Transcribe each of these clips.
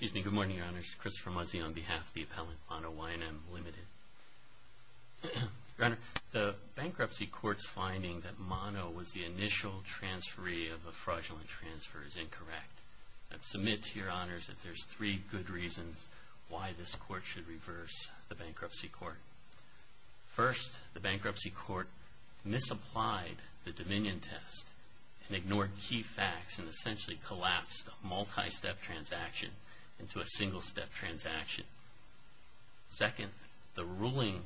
Good morning, Your Honors. Christopher Muzzi on behalf of the appellant, Mano-Y&M, Ltd. Your Honor, the Bankruptcy Court's finding that Mano was the initial transferee of the fraudulent transfer is incorrect. I submit to Your Honors that there's three good reasons why this Court should reverse the Bankruptcy Court. First, the Bankruptcy Court misapplied the Dominion Test and ignored key facts and essentially collapsed a multi-step transaction into a single-step transaction. Second, the ruling,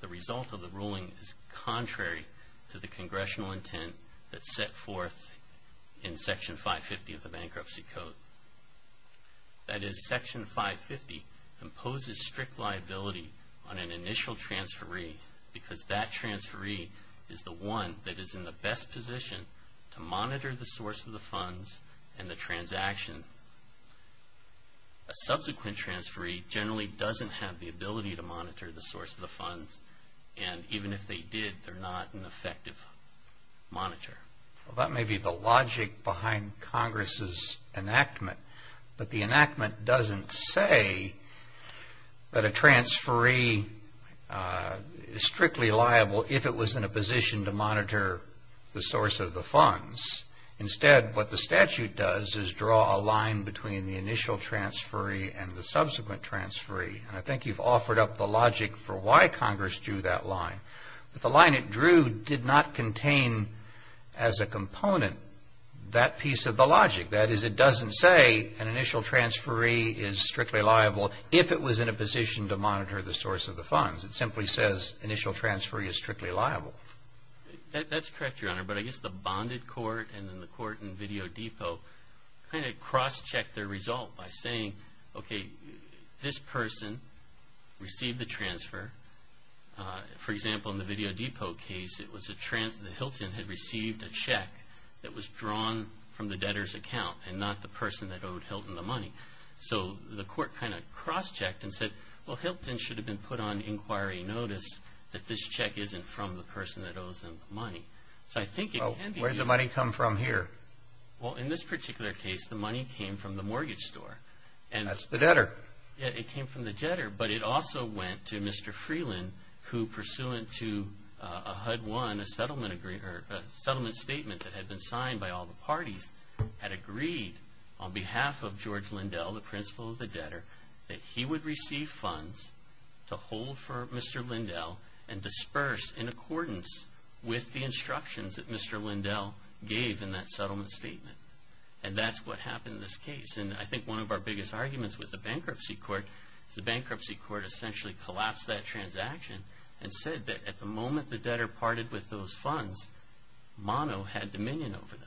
the result of the ruling is contrary to the Congressional intent that's set forth in Section 550 of the Bankruptcy Code. That is, Section 550 imposes strict liability on an initial transferee because that transferee is the one that is in the best position to monitor the source of the funds and the transaction. A subsequent transferee generally doesn't have the ability to monitor the source of the funds and even if they did, they're not an effective monitor. Well, that may be the logic behind Congress's enactment, but the enactment doesn't say that a transferee is strictly liable if it was in a position to monitor the source of the funds. Instead, what the statute does is draw a line between the initial transferee and the subsequent transferee and I think you've offered up the logic for why Congress drew that line. But the line it drew did not contain as a component that piece of the logic. That is, it doesn't say an initial transferee is strictly liable if it was in a position to monitor the source of the funds. It simply says initial transferee is strictly liable. That's correct, Your Honor, but I guess the bonded court and then the court in Video Depot kind of cross-checked their result by saying, okay, this person received the transfer. For example, in the Video Depot case, it was a transfer. Hilton had received a check that was drawn from the debtor's account and not the person that owed Hilton the money. So the court kind of cross-checked and said, well, Hilton should have been put on inquiry notice that this check isn't from the person that owes him the money. So I think it can be used… Well, where did the money come from here? Well, in this particular case, the money came from the mortgage store. That's the debtor. It came from the debtor, but it also went to Mr. Freeland, who pursuant to a HUD-1, a settlement statement that had been signed by all the parties, had agreed on behalf of George Lindell, the principal of the debtor, that he would receive funds to hold for Mr. Lindell and disperse in accordance with the instructions that Mr. Lindell gave in that settlement statement. And that's what happened in this case. And I think one of our biggest arguments with the bankruptcy court is the bankruptcy court essentially collapsed that transaction and said that at the moment the debtor parted with those funds, Mono had dominion over them.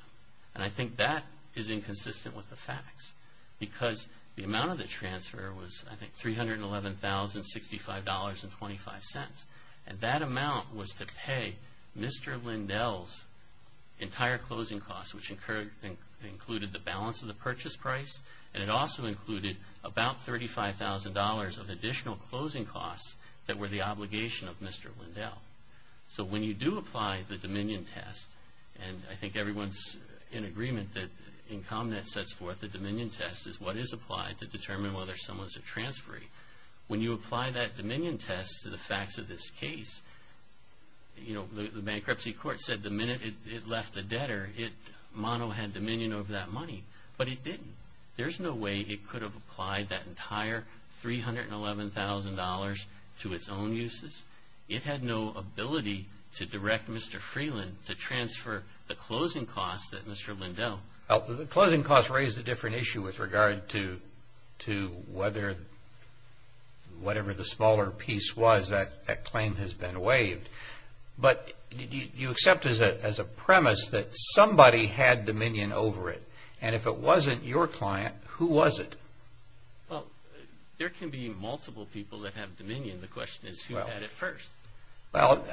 And I think that is inconsistent with the facts because the amount of the transfer was, I think, $311,065.25. And that amount was to pay Mr. Lindell's entire closing costs, which included the balance of the purchase price, and it also included about $35,000 of additional closing costs that were the obligation of Mr. Lindell. So when you do apply the dominion test, and I think everyone's in agreement that in common that sets forth the dominion test is what is applied to determine whether someone's a transferee. When you apply that dominion test to the facts of this case, you know, the bankruptcy court said the minute it left the debtor, Mono had dominion over that money. But it didn't. There's no way it could have applied that entire $311,000 to its own uses. It had no ability to direct Mr. Freeland to transfer the closing costs that Mr. Lindell. The closing costs raised a different issue with regard to whether whatever the smaller piece was, that claim has been waived. But you accept as a premise that somebody had dominion over it, and if it wasn't your client, who was it? Well, there can be multiple people that have dominion. The question is who had it first. Well,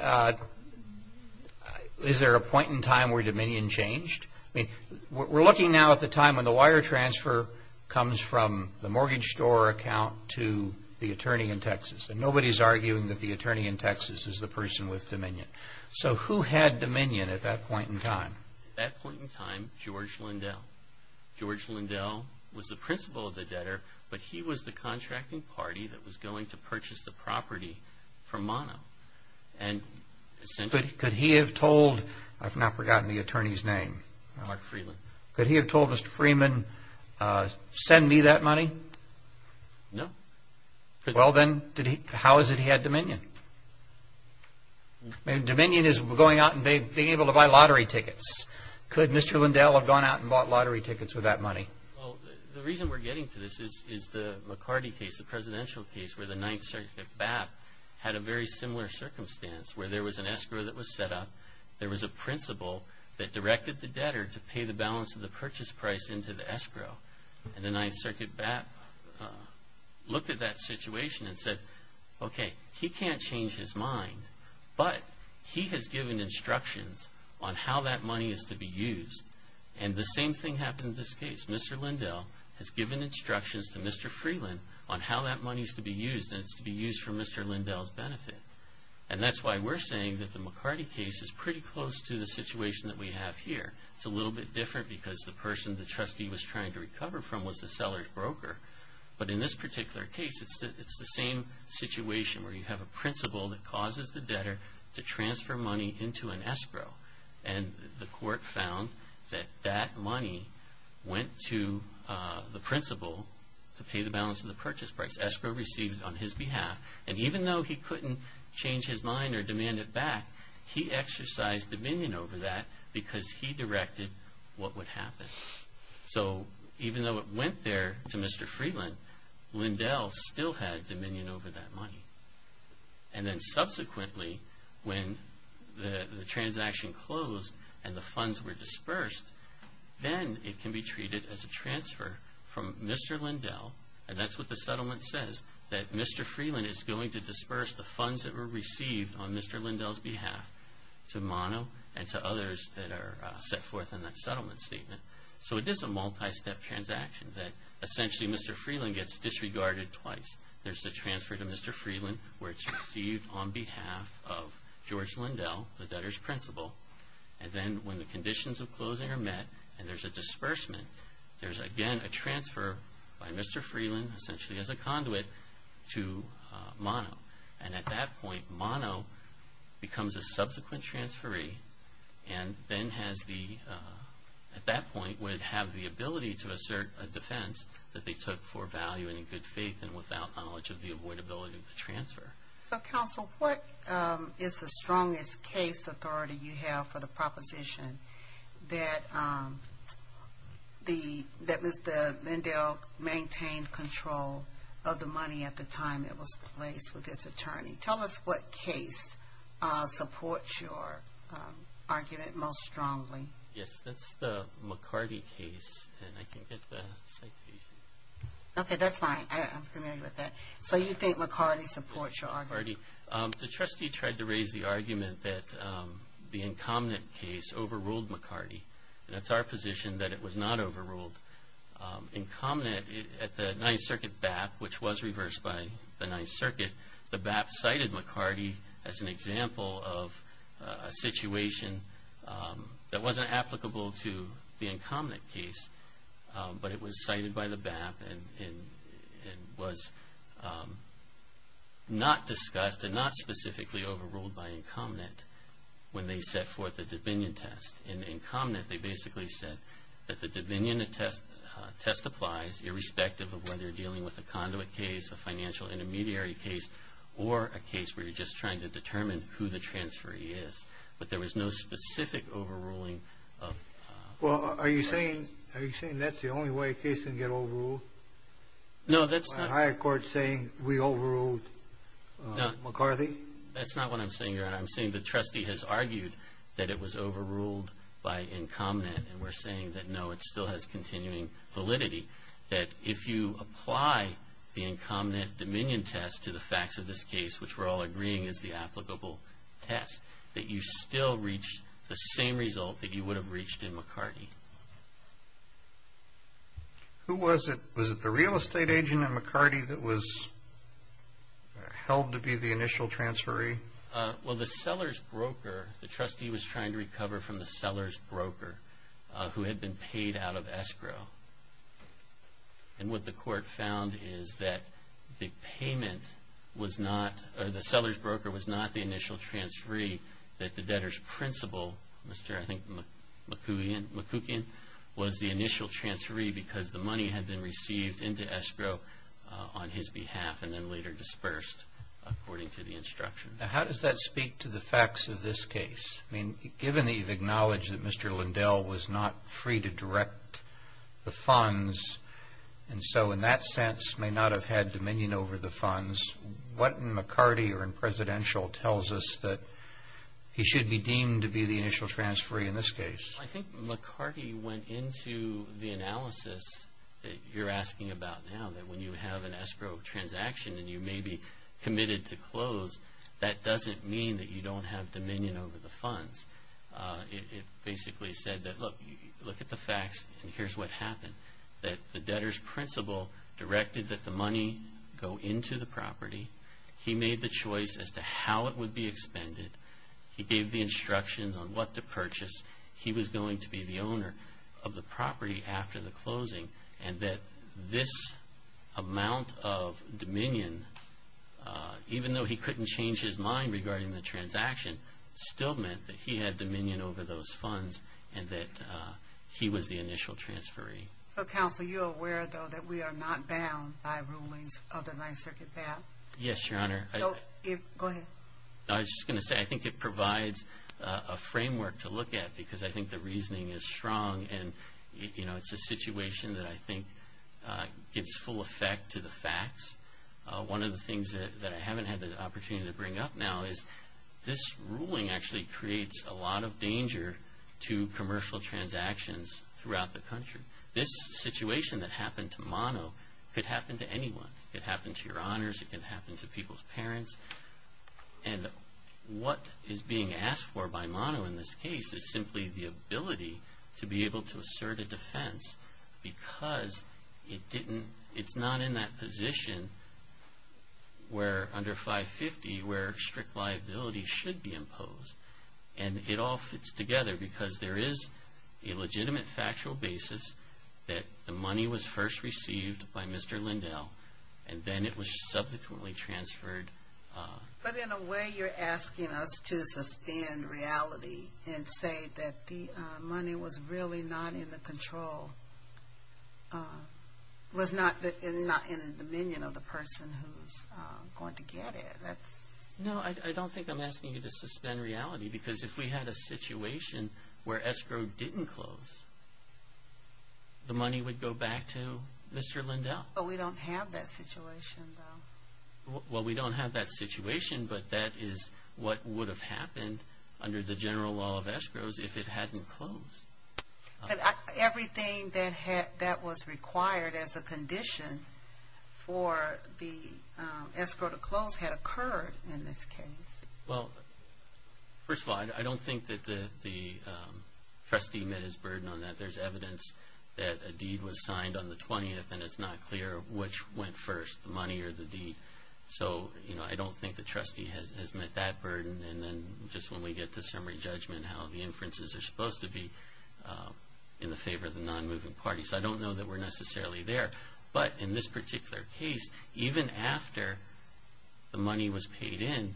is there a point in time where dominion changed? I mean, we're looking now at the time when the wire transfer comes from the mortgage store account to the attorney in Texas, and nobody's arguing that the attorney in Texas is the person with dominion. So who had dominion at that point in time? At that point in time, George Lindell. George Lindell was the principal of the debtor, but he was the contracting party that was going to purchase the property from Mono. Could he have told, I've now forgotten the attorney's name. Mark Freeland. Could he have told Mr. Freeman, send me that money? No. Well, then how is it he had dominion? I mean, dominion is going out and being able to buy lottery tickets. Could Mr. Lindell have gone out and bought lottery tickets with that money? Well, the reason we're getting to this is the McCarty case, the presidential case where the Ninth Circuit BAP had a very similar circumstance where there was an escrow that was set up, there was a principal that directed the debtor to pay the balance of the purchase price into the escrow. And the Ninth Circuit BAP looked at that situation and said, okay, he can't change his mind, but he has given instructions on how that money is to be used. And the same thing happened in this case. Mr. Lindell has given instructions to Mr. Freeman on how that money is to be used, and it's to be used for Mr. Lindell's benefit. And that's why we're saying that the McCarty case is pretty close to the situation that we have here. It's a little bit different because the person the trustee was trying to recover from was the seller's broker. But in this particular case, it's the same situation where you have a principal that causes the debtor to transfer money into an escrow. And the court found that that money went to the principal to pay the balance of the purchase price, escrow received on his behalf. And even though he couldn't change his mind or demand it back, he exercised dominion over that because he directed what would happen. So even though it went there to Mr. Freeman, Lindell still had dominion over that money. And then subsequently, when the transaction closed and the funds were dispersed, then it can be treated as a transfer from Mr. Lindell, and that's what the settlement says, that Mr. Freeland is going to disperse the funds that were received on Mr. Lindell's behalf to Mono and to others that are set forth in that settlement statement. So it is a multi-step transaction that essentially Mr. Freeland gets disregarded twice. There's the transfer to Mr. Freeland where it's received on behalf of George Lindell, the debtor's principal. And then when the conditions of closing are met and there's a disbursement, there's again a transfer by Mr. Freeland essentially as a conduit to Mono. And at that point, Mono becomes a subsequent transferee and then at that point would have the ability to assert a defense that they took for value and in good faith and without knowledge of the avoidability of the transfer. So, Counsel, what is the strongest case authority you have for the proposition that Mr. Lindell maintained control of the money at the time it was placed with this attorney? Tell us what case supports your argument most strongly. Yes, that's the McCarty case, and I can get the citation. Okay, that's fine. I'm familiar with that. So you think McCarty supports your argument? McCarty. The trustee tried to raise the argument that the incumbent case overruled McCarty, and it's our position that it was not overruled. Incumbent at the Ninth Circuit BAP, which was reversed by the Ninth Circuit, the BAP cited McCarty as an example of a situation that wasn't applicable to the incumbent case, but it was cited by the BAP and was not discussed and not specifically overruled by incumbent when they set forth the dominion test. In incumbent, they basically said that the dominion test applies irrespective of whether you're dealing with a conduit case, a financial intermediary case, or a case where you're just trying to determine who the transferee is. But there was no specific overruling. Well, are you saying that's the only way a case can get overruled? No, that's not. By a higher court saying we overruled McCarty? That's not what I'm saying, Your Honor. I'm saying the trustee has argued that it was overruled by incumbent, and we're saying that, no, it still has continuing validity, that if you apply the incumbent dominion test to the facts of this case, which we're all agreeing is the applicable test, that you still reach the same result that you would have reached in McCarty. Who was it? Was it the real estate agent in McCarty that was held to be the initial transferee? Well, the seller's broker, the trustee was trying to recover from the seller's broker, who had been paid out of escrow. And what the court found is that the payment was not, or the seller's broker was not the initial transferee, that the debtor's principal, Mr., I think, McCookian, was the initial transferee because the money had been received into escrow on his behalf and then later dispersed according to the instruction. Now, how does that speak to the facts of this case? I mean, given that you've acknowledged that Mr. Lindell was not free to direct the funds and so in that sense may not have had dominion over the funds, what in McCarty or in presidential tells us that he should be deemed to be the initial transferee in this case? I think McCarty went into the analysis that you're asking about now, that when you have an escrow transaction and you may be committed to close, that doesn't mean that you don't have dominion over the funds. It basically said that, look, look at the facts and here's what happened, that the debtor's principal directed that the money go into the property. He made the choice as to how it would be expended. He gave the instructions on what to purchase. He was going to be the owner of the property after the closing and that this amount of dominion, even though he couldn't change his mind regarding the transaction, still meant that he had dominion over those funds and that he was the initial transferee. So, counsel, you're aware, though, that we are not bound by rulings of the Ninth Circuit Pat? Yes, Your Honor. Go ahead. I was just going to say I think it provides a framework to look at because I think the reasoning is strong and it's a situation that I think gives full effect to the facts. One of the things that I haven't had the opportunity to bring up now is this ruling actually creates a lot of danger to commercial transactions throughout the country. This situation that happened to Mono could happen to anyone. It could happen to your honors. It could happen to people's parents. And what is being asked for by Mono in this case is simply the ability to be able to assert a defense because it's not in that position where under 550 where strict liability should be imposed. And it all fits together because there is a legitimate factual basis that the money was first received by Mr. Lindell and then it was subsequently transferred. But in a way you're asking us to suspend reality and say that the money was really not in the control, was not in the dominion of the person who's going to get it. No, I don't think I'm asking you to suspend reality because if we had a situation where escrow didn't close, the money would go back to Mr. Lindell. But we don't have that situation, though. Well, we don't have that situation, but that is what would have happened under the general law of escrows if it hadn't closed. Everything that was required as a condition for the escrow to close had occurred in this case. Well, first of all, I don't think that the trustee met his burden on that. There's evidence that a deed was signed on the 20th and it's not clear which went first, the money or the deed. So, you know, I don't think the trustee has met that burden. And then just when we get to summary judgment, how the inferences are supposed to be in the favor of the non-moving parties, I don't know that we're necessarily there. But in this particular case, even after the money was paid in,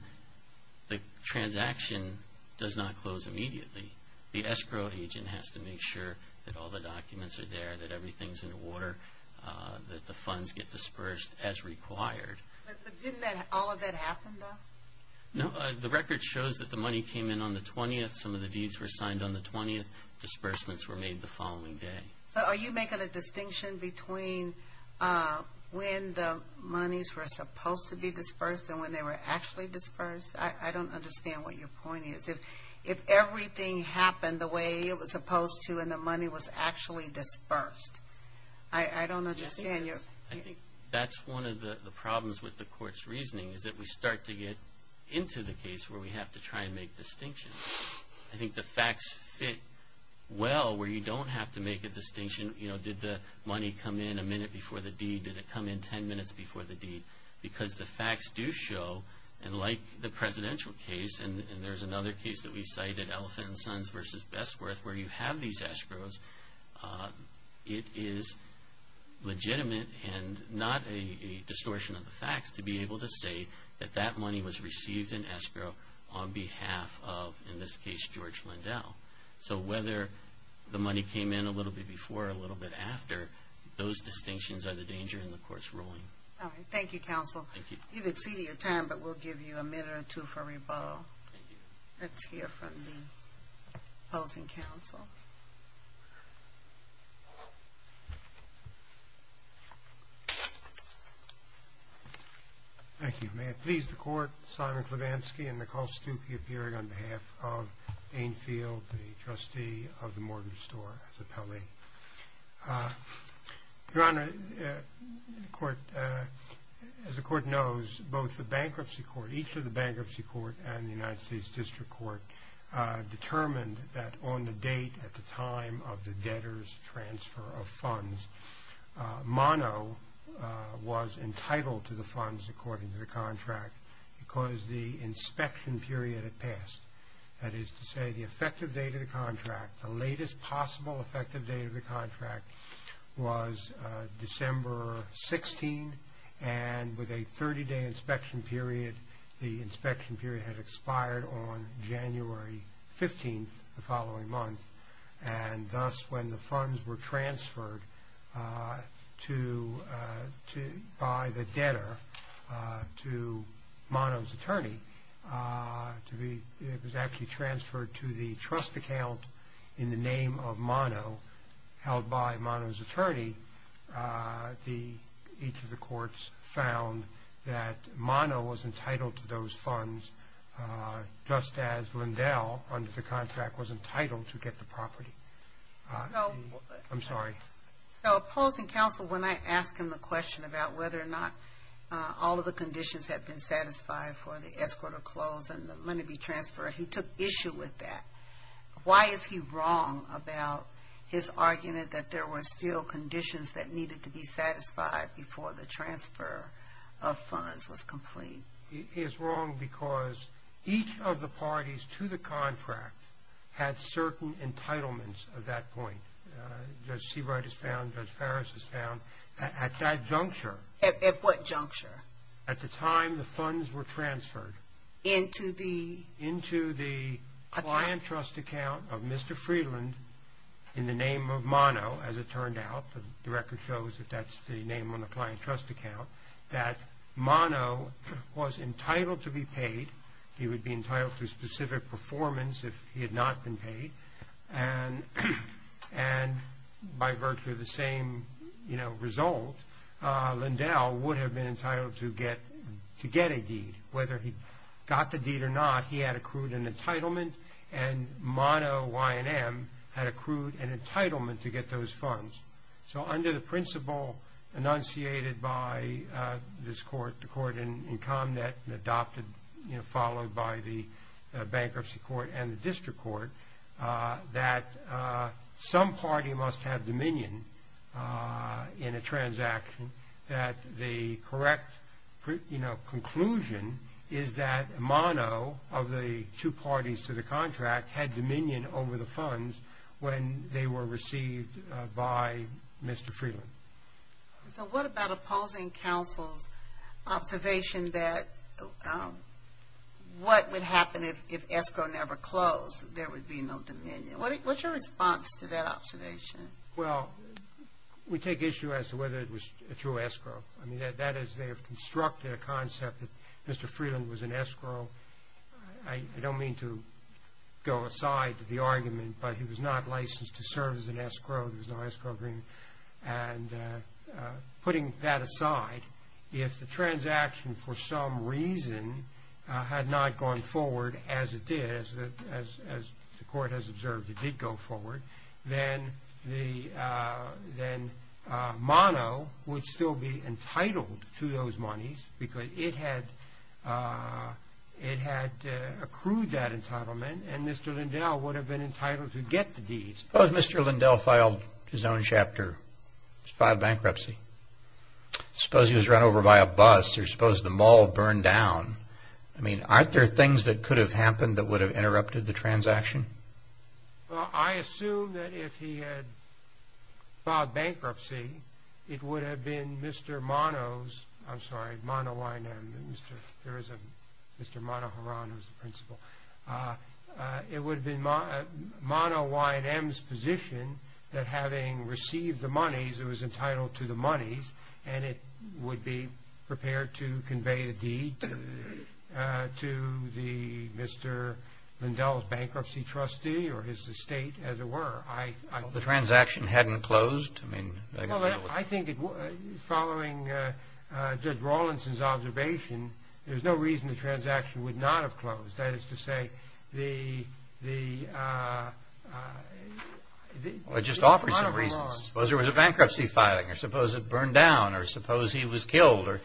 the transaction does not close immediately. The escrow agent has to make sure that all the documents are there, that everything's in order, that the funds get dispersed as required. But didn't all of that happen, though? No. The record shows that the money came in on the 20th. Some of the deeds were signed on the 20th. Disbursements were made the following day. So are you making a distinction between when the monies were supposed to be dispersed and when they were actually dispersed? I don't understand what your point is. If everything happened the way it was supposed to and the money was actually dispersed. I don't understand. I think that's one of the problems with the court's reasoning, is that we start to get into the case where we have to try and make distinctions. I think the facts fit well where you don't have to make a distinction. You know, did the money come in a minute before the deed? Did it come in ten minutes before the deed? Because the facts do show, and like the presidential case, and there's another case that we cited, Elephant & Sons v. Bestworth, where you have these escrows, it is legitimate and not a distortion of the facts to be able to say that that money was received in escrow on behalf of, in this case, George Lindell. So whether the money came in a little bit before or a little bit after, those distinctions are the danger in the court's ruling. All right. Thank you, counsel. Thank you. You've exceeded your time, but we'll give you a minute or two for rebuttal. Thank you. Let's hear from the opposing counsel. Thank you. May it please the court, Simon Klevansky and Nicole Stuckey appearing on behalf of Dainfield, the trustee of the mortgage store, as appellee. Your Honor, as the court knows, both the bankruptcy court, each of the bankruptcy court and the United States District Court, determined that on the date at the time of the debtor's transfer of funds, Mono was entitled to the funds according to the contract because the inspection period had passed. That is to say, the effective date of the contract, the latest possible effective date of the contract was December 16, and with a 30-day inspection period, the inspection period had expired on January 15th, the following month, and thus when the funds were transferred by the debtor to Mono's attorney, it was actually transferred to the trust account in the name of Mono, held by Mono's attorney, each of the courts found that Mono was entitled to those funds just as Lindell, under the contract, was entitled to get the property. I'm sorry. So opposing counsel, when I ask him the question about whether or not all of the conditions had been satisfied for the escort of clothes and the money to be transferred, he took issue with that. Why is he wrong about his argument that there were still conditions that needed to be satisfied before the transfer of funds was complete? He is wrong because each of the parties to the contract had certain entitlements at that point. Judge Seabright has found, Judge Farris has found, at that juncture. At what juncture? At the time the funds were transferred. Into the? Into the client trust account of Mr. Freeland in the name of Mono, as it turned out. The record shows that that's the name on the client trust account, that Mono was entitled to be paid. He would be entitled to a specific performance if he had not been paid, and by virtue of the same result, Lindell would have been entitled to get a deed. Whether he got the deed or not, he had accrued an entitlement, and Mono Y&M had accrued an entitlement to get those funds. So under the principle enunciated by this court, the court in ComNet, and adopted, you know, followed by the bankruptcy court and the district court, that some party must have dominion in a transaction that the correct, you know, conclusion is that Mono, of the two parties to the contract, had dominion over the funds when they were received by Mr. Freeland. So what about opposing counsel's observation that what would happen if escrow never closed? There would be no dominion. What's your response to that observation? Well, we take issue as to whether it was a true escrow. I mean, that is, they have constructed a concept that Mr. Freeland was an escrow. I don't mean to go aside to the argument, but he was not licensed to serve as an escrow. There was no escrow agreement. And putting that aside, if the transaction for some reason had not gone forward as it did, as the court has observed it did go forward, then Mono would still be entitled to those monies because it had accrued that entitlement, and Mr. Lindell would have been entitled to get the deeds. Suppose Mr. Lindell filed his own chapter, filed bankruptcy. Suppose he was run over by a bus or suppose the mall burned down. I mean, aren't there things that could have happened that would have interrupted the transaction? Well, I assume that if he had filed bankruptcy, it would have been Mr. Mono's, I'm sorry, Mono Y&M, Mr. Monoharan was the principal. It would have been Mono Y&M's position that having received the monies it was entitled to the monies and it would be prepared to convey the deed to the Mr. Lindell's bankruptcy trustee or his estate as it were. The transaction hadn't closed? Well, I think following Judge Rawlinson's observation, there's no reason the transaction would not have closed. That is to say, the... Well, it just offered some reasons. Suppose there was a bankruptcy filing or suppose it burned down or suppose he was killed.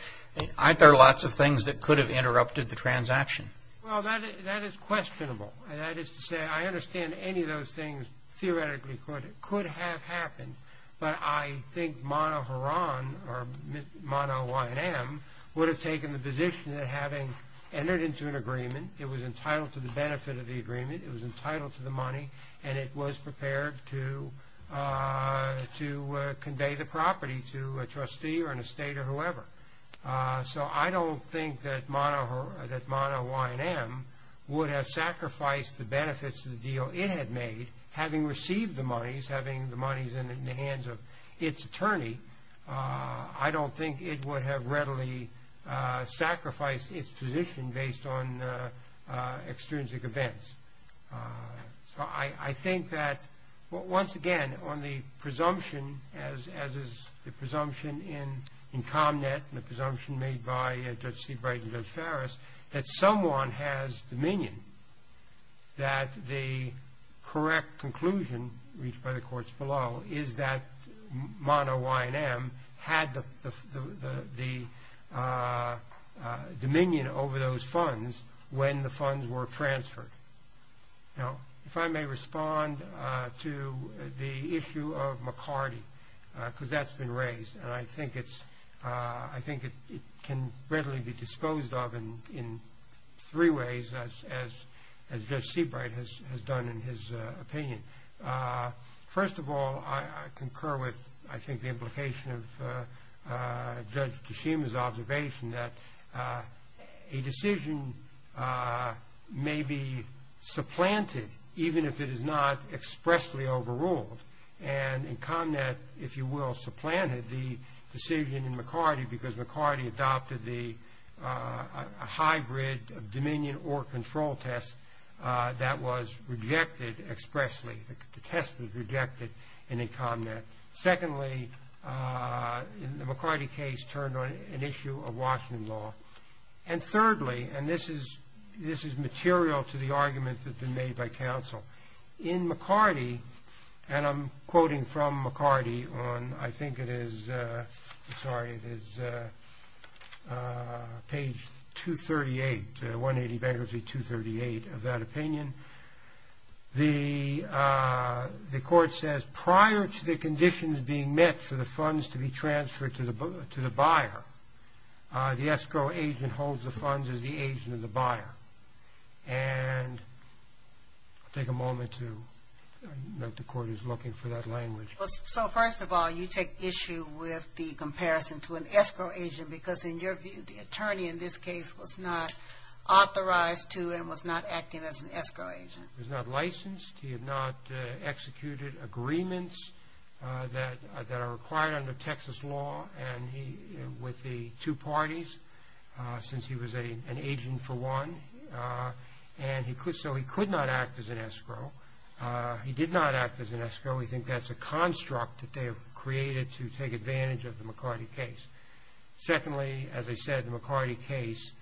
Aren't there lots of things that could have interrupted the transaction? Well, that is questionable. That is to say, I understand any of those things theoretically could have happened, but I think Monoharan or Mono Y&M would have taken the position that having entered into an agreement, it was entitled to the benefit of the agreement, it was entitled to the money, and it was prepared to convey the property to a trustee or an estate or whoever. So I don't think that Mono Y&M would have sacrificed the benefits of the deal it had made, having received the monies, having the monies in the hands of its attorney. I don't think it would have readily sacrificed its position based on extrinsic events. So I think that, once again, on the presumption, as is the presumption in ComNet and the presumption made by Judge Seabright and Judge Farris, that someone has dominion, that the correct conclusion reached by the courts below is that Mono Y&M had the dominion over those funds when the funds were transferred. Now, if I may respond to the issue of McCarty, because that's been raised, and I think it can readily be disposed of in three ways, as Judge Seabright has done in his opinion. First of all, I concur with, I think, the implication of Judge Kishima's observation that a decision may be supplanted, even if it is not expressly overruled. And ComNet, if you will, supplanted the decision in McCarty because McCarty adopted a hybrid of dominion or control test that was rejected expressly. The test was rejected in ComNet. Secondly, the McCarty case turned on an issue of Washington law. And thirdly, and this is material to the argument that's been made by counsel, in McCarty, and I'm quoting from McCarty on, I think it is, sorry, it is page 238, 180 bankruptcy 238 of that opinion. The court says, prior to the conditions being met for the funds to be transferred to the buyer, the escrow agent holds the funds as the agent of the buyer. And I'll take a moment to note the court is looking for that language. So, first of all, you take issue with the comparison to an escrow agent because, in your view, the attorney in this case was not authorized to and was not acting as an escrow agent. He was not licensed. He had not executed agreements that are required under Texas law. And he, with the two parties, since he was an agent for one, and so he could not act as an escrow. He did not act as an escrow. We think that's a construct that they have created to take advantage of the McCarty case. Secondly, as I said, the McCarty case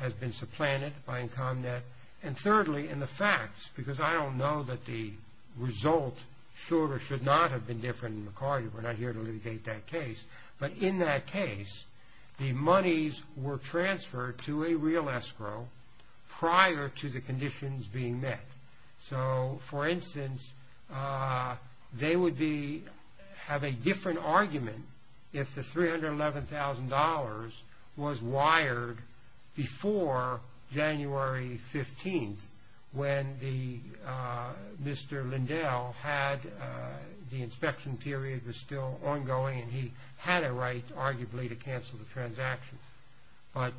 has been supplanted by ComNet. And thirdly, in the facts, because I don't know that the result should or should not have been different in McCarty. We're not here to litigate that case. But in that case, the monies were transferred to a real escrow prior to the conditions being met. So, for instance, they would have a different argument if the $311,000 was wired before January 15th when Mr. Lindell had the inspection period was still ongoing. And he had a right, arguably, to cancel the transaction. But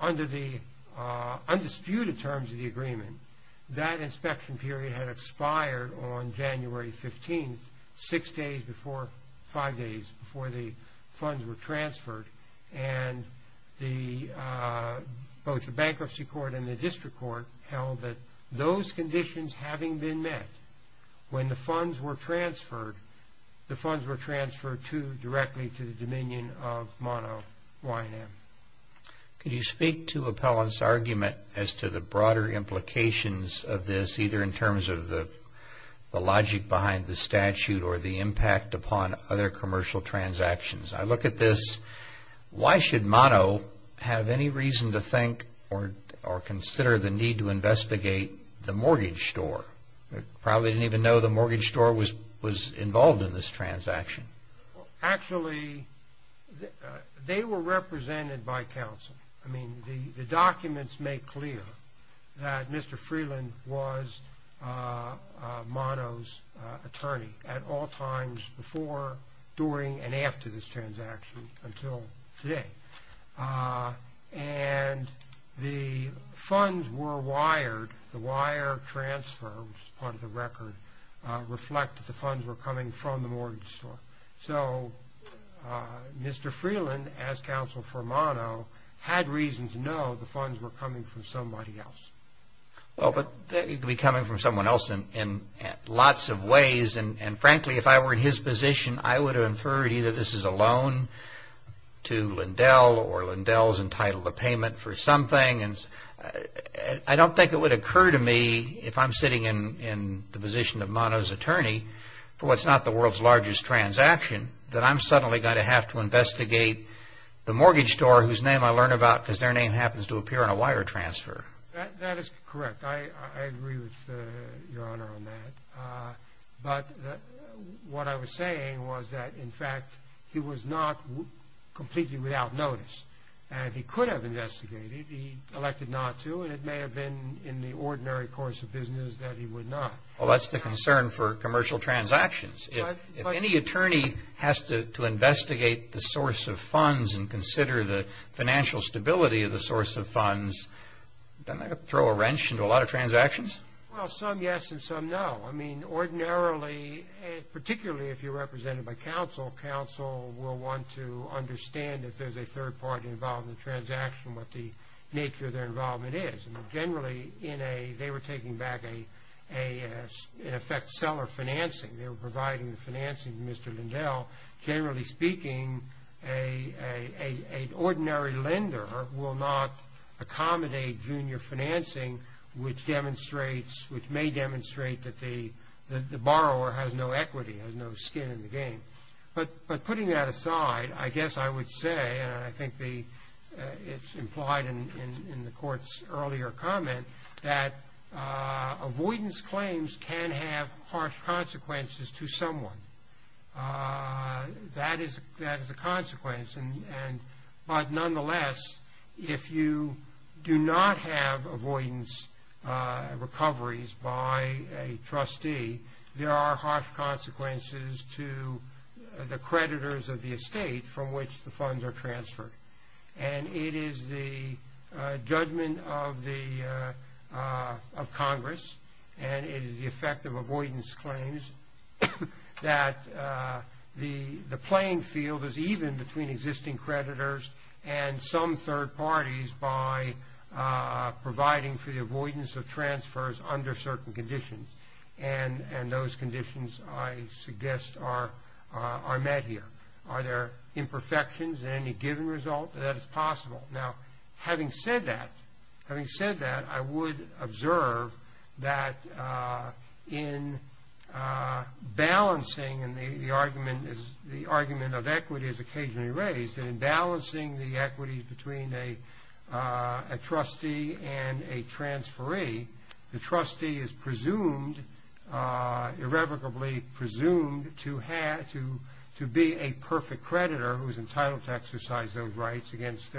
under the undisputed terms of the agreement, that inspection period had expired on January 15th, six days before, five days before the funds were transferred. And both the Bankruptcy Court and the District Court held that those conditions having been met, when the funds were transferred, the funds were transferred directly to the Dominion of Mono Y&M. Could you speak to Appellant's argument as to the broader implications of this, either in terms of the logic behind the statute or the impact upon other commercial transactions? I look at this. Why should Mono have any reason to think or consider the need to investigate the mortgage store? They probably didn't even know the mortgage store was involved in this transaction. Actually, they were represented by counsel. I mean, the documents make clear that Mr. Freeland was Mono's attorney at all times, before, during, and after this transaction until today. And the funds were wired. The wire transfer, which is part of the record, reflected the funds were coming from the mortgage store. So Mr. Freeland, as counsel for Mono, had reason to know the funds were coming from somebody else. Well, but they could be coming from someone else in lots of ways. And frankly, if I were in his position, I would have inferred either this is a loan to Lindell or Lindell is entitled to payment for something. I don't think it would occur to me, if I'm sitting in the position of Mono's attorney, for what's not the world's largest transaction, that I'm suddenly going to have to investigate the mortgage store, whose name I learn about because their name happens to appear on a wire transfer. That is correct. I agree with Your Honor on that. But what I was saying was that, in fact, he was not completely without notice. And he could have investigated. He elected not to, and it may have been in the ordinary course of business that he would not. Well, that's the concern for commercial transactions. If any attorney has to investigate the source of funds and consider the financial stability of the source of funds, doesn't that throw a wrench into a lot of transactions? Well, some yes and some no. I mean, ordinarily, particularly if you're represented by counsel, counsel will want to understand if there's a third party involved in the transaction, what the nature of their involvement is. Generally, they were taking back, in effect, seller financing. They were providing the financing to Mr. Lindell. Generally speaking, an ordinary lender will not accommodate junior financing, which may demonstrate that the borrower has no equity, has no skin in the game. But putting that aside, I guess I would say, and I think it's implied in the Court's earlier comment, that avoidance claims can have harsh consequences to someone. That is a consequence. But nonetheless, if you do not have avoidance recoveries by a trustee, there are harsh consequences to the creditors of the estate from which the funds are transferred. And it is the judgment of Congress, and it is the effect of avoidance claims, that the playing field is even between existing creditors and some third parties by providing for the avoidance of transfers under certain conditions. And those conditions, I suggest, are met here. Are there imperfections in any given result? That is possible. Now, having said that, I would observe that in balancing, and the argument of equity is occasionally raised, that in balancing the equity between a trustee and a transferee, the trustee is presumed, irrevocably presumed, to be a perfect creditor who is entitled to exercise those rights against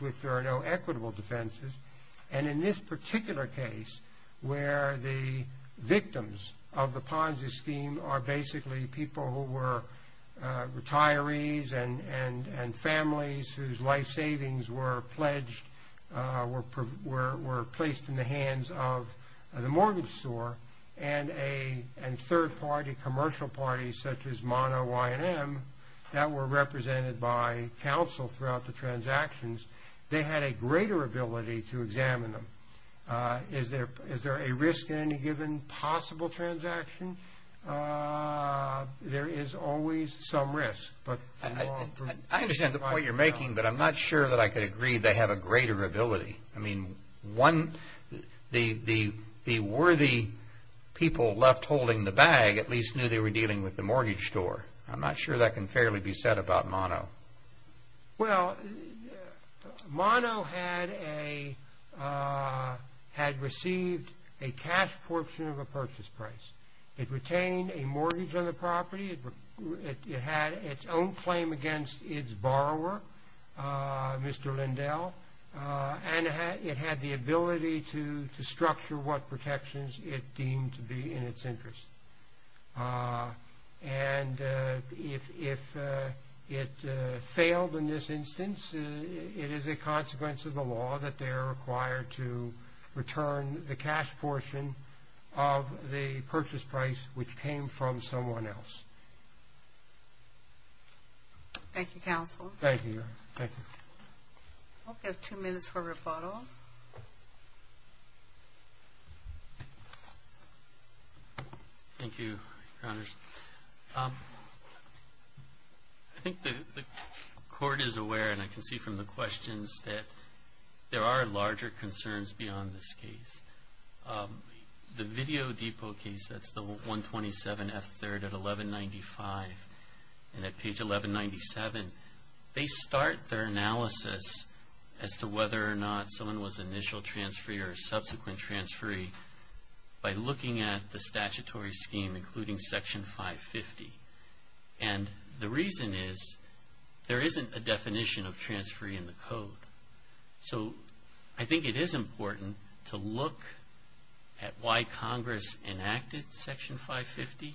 which there are no equitable defenses. And in this particular case, where the victims of the Ponzi scheme are basically people who were retirees and families whose life savings were placed in the hands of the mortgage store, and third-party commercial parties such as Mono, Y&M, that were represented by counsel throughout the transactions, they had a greater ability to examine them. Is there a risk in any given possible transaction? There is always some risk. I understand the point you're making, but I'm not sure that I could agree they have a greater ability. I mean, the worthy people left holding the bag at least knew they were dealing with the mortgage store. I'm not sure that can fairly be said about Mono. Well, Mono had received a cash portion of a purchase price. It retained a mortgage on the property. It had its own claim against its borrower, Mr. Lindell, and it had the ability to structure what protections it deemed to be in its interest. And if it failed in this instance, it is a consequence of the law that they are required to return the cash portion of the purchase price which came from someone else. Thank you, counsel. Thank you. Thank you. We have two minutes for rebuttal. Thank you, Your Honors. I think the Court is aware, and I can see from the questions, that there are larger concerns beyond this case. The Video Depot case, that's the 127F3rd at 1195, and at page 1197, they start their analysis as to whether or not someone was initial transferee or subsequent transferee by looking at the statutory scheme including Section 550. And the reason is there isn't a definition of transferee in the code. So I think it is important to look at why Congress enacted Section 550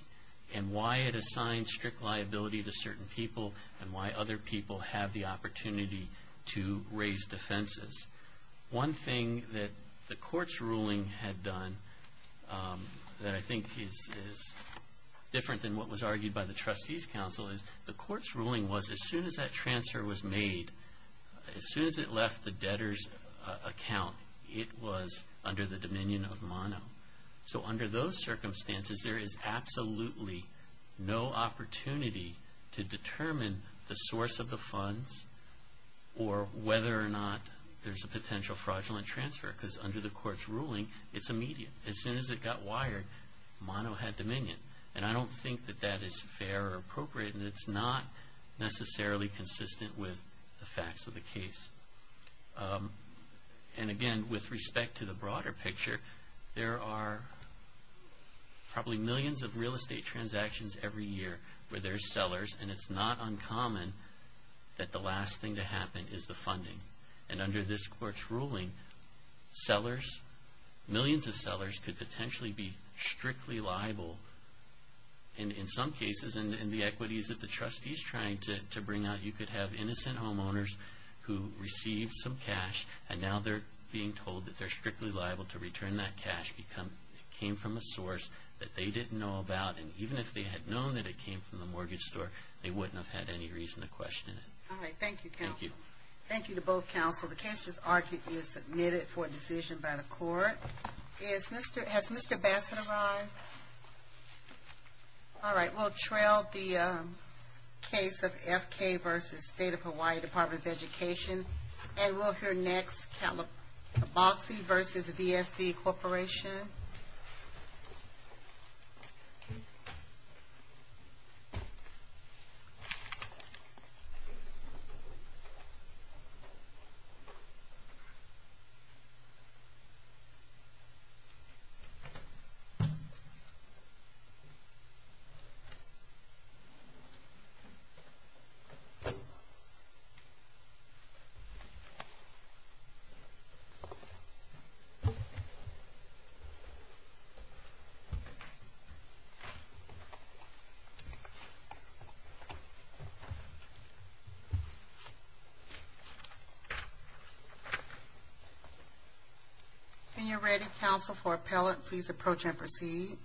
and why it assigned strict liability to certain people and why other people have the opportunity to raise defenses. One thing that the Court's ruling had done that I think is different than what was argued by the trustees' counsel is the Court's ruling was as soon as that transfer was made, as soon as it left the debtor's account, it was under the dominion of mono. So under those circumstances, there is absolutely no opportunity to determine the source of the funds or whether or not there's a potential fraudulent transfer because under the Court's ruling, it's immediate. As soon as it got wired, mono had dominion. And I don't think that that is fair or appropriate, and it's not necessarily consistent with the facts of the case. And again, with respect to the broader picture, there are probably millions of real estate transactions every year where there's sellers, and it's not uncommon that the last thing to happen is the funding. And under this Court's ruling, sellers, millions of sellers, could potentially be strictly liable. In some cases, in the equities that the trustees tried to bring out, you could have innocent homeowners who received some cash, and now they're being told that they're strictly liable to return that cash because it came from a source that they didn't know about. And even if they had known that it came from the mortgage store, they wouldn't have had any reason to question it. All right. Thank you, counsel. Thank you. Thank you to both counsel. The case is submitted for decision by the Court. Has Mr. Bassett arrived? All right. We'll trail the case of FK v. State of Hawaii Department of Education, and we'll hear next, Cabossi v. VSC Corporation. Thank you. When you're ready, counsel, for appellate, please approach and proceed.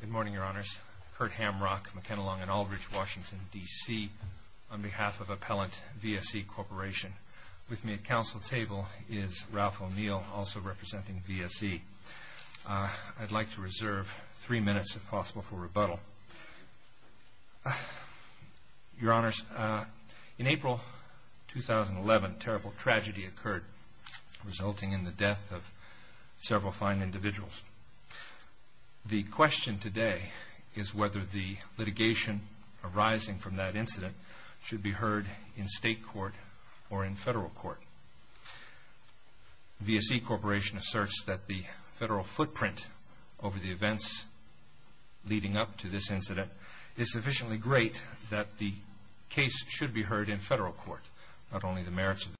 Good morning, Your Honors. Curt Hamrock, McKenna Long & Aldridge, Washington, D.C., on behalf of Appellant VSC Corporation. With me at counsel table is Ralph O'Neill, also representing VSC. I'd like to reserve three minutes, if possible, for rebuttal. Your Honors, in April 2011, terrible tragedy occurred, resulting in the death of several fine individuals. The question today is whether the litigation arising from that incident should be heard in state court or in federal court. VSC Corporation asserts that the federal footprint over the events leading up to this incident is sufficiently great that the case should be heard in federal court.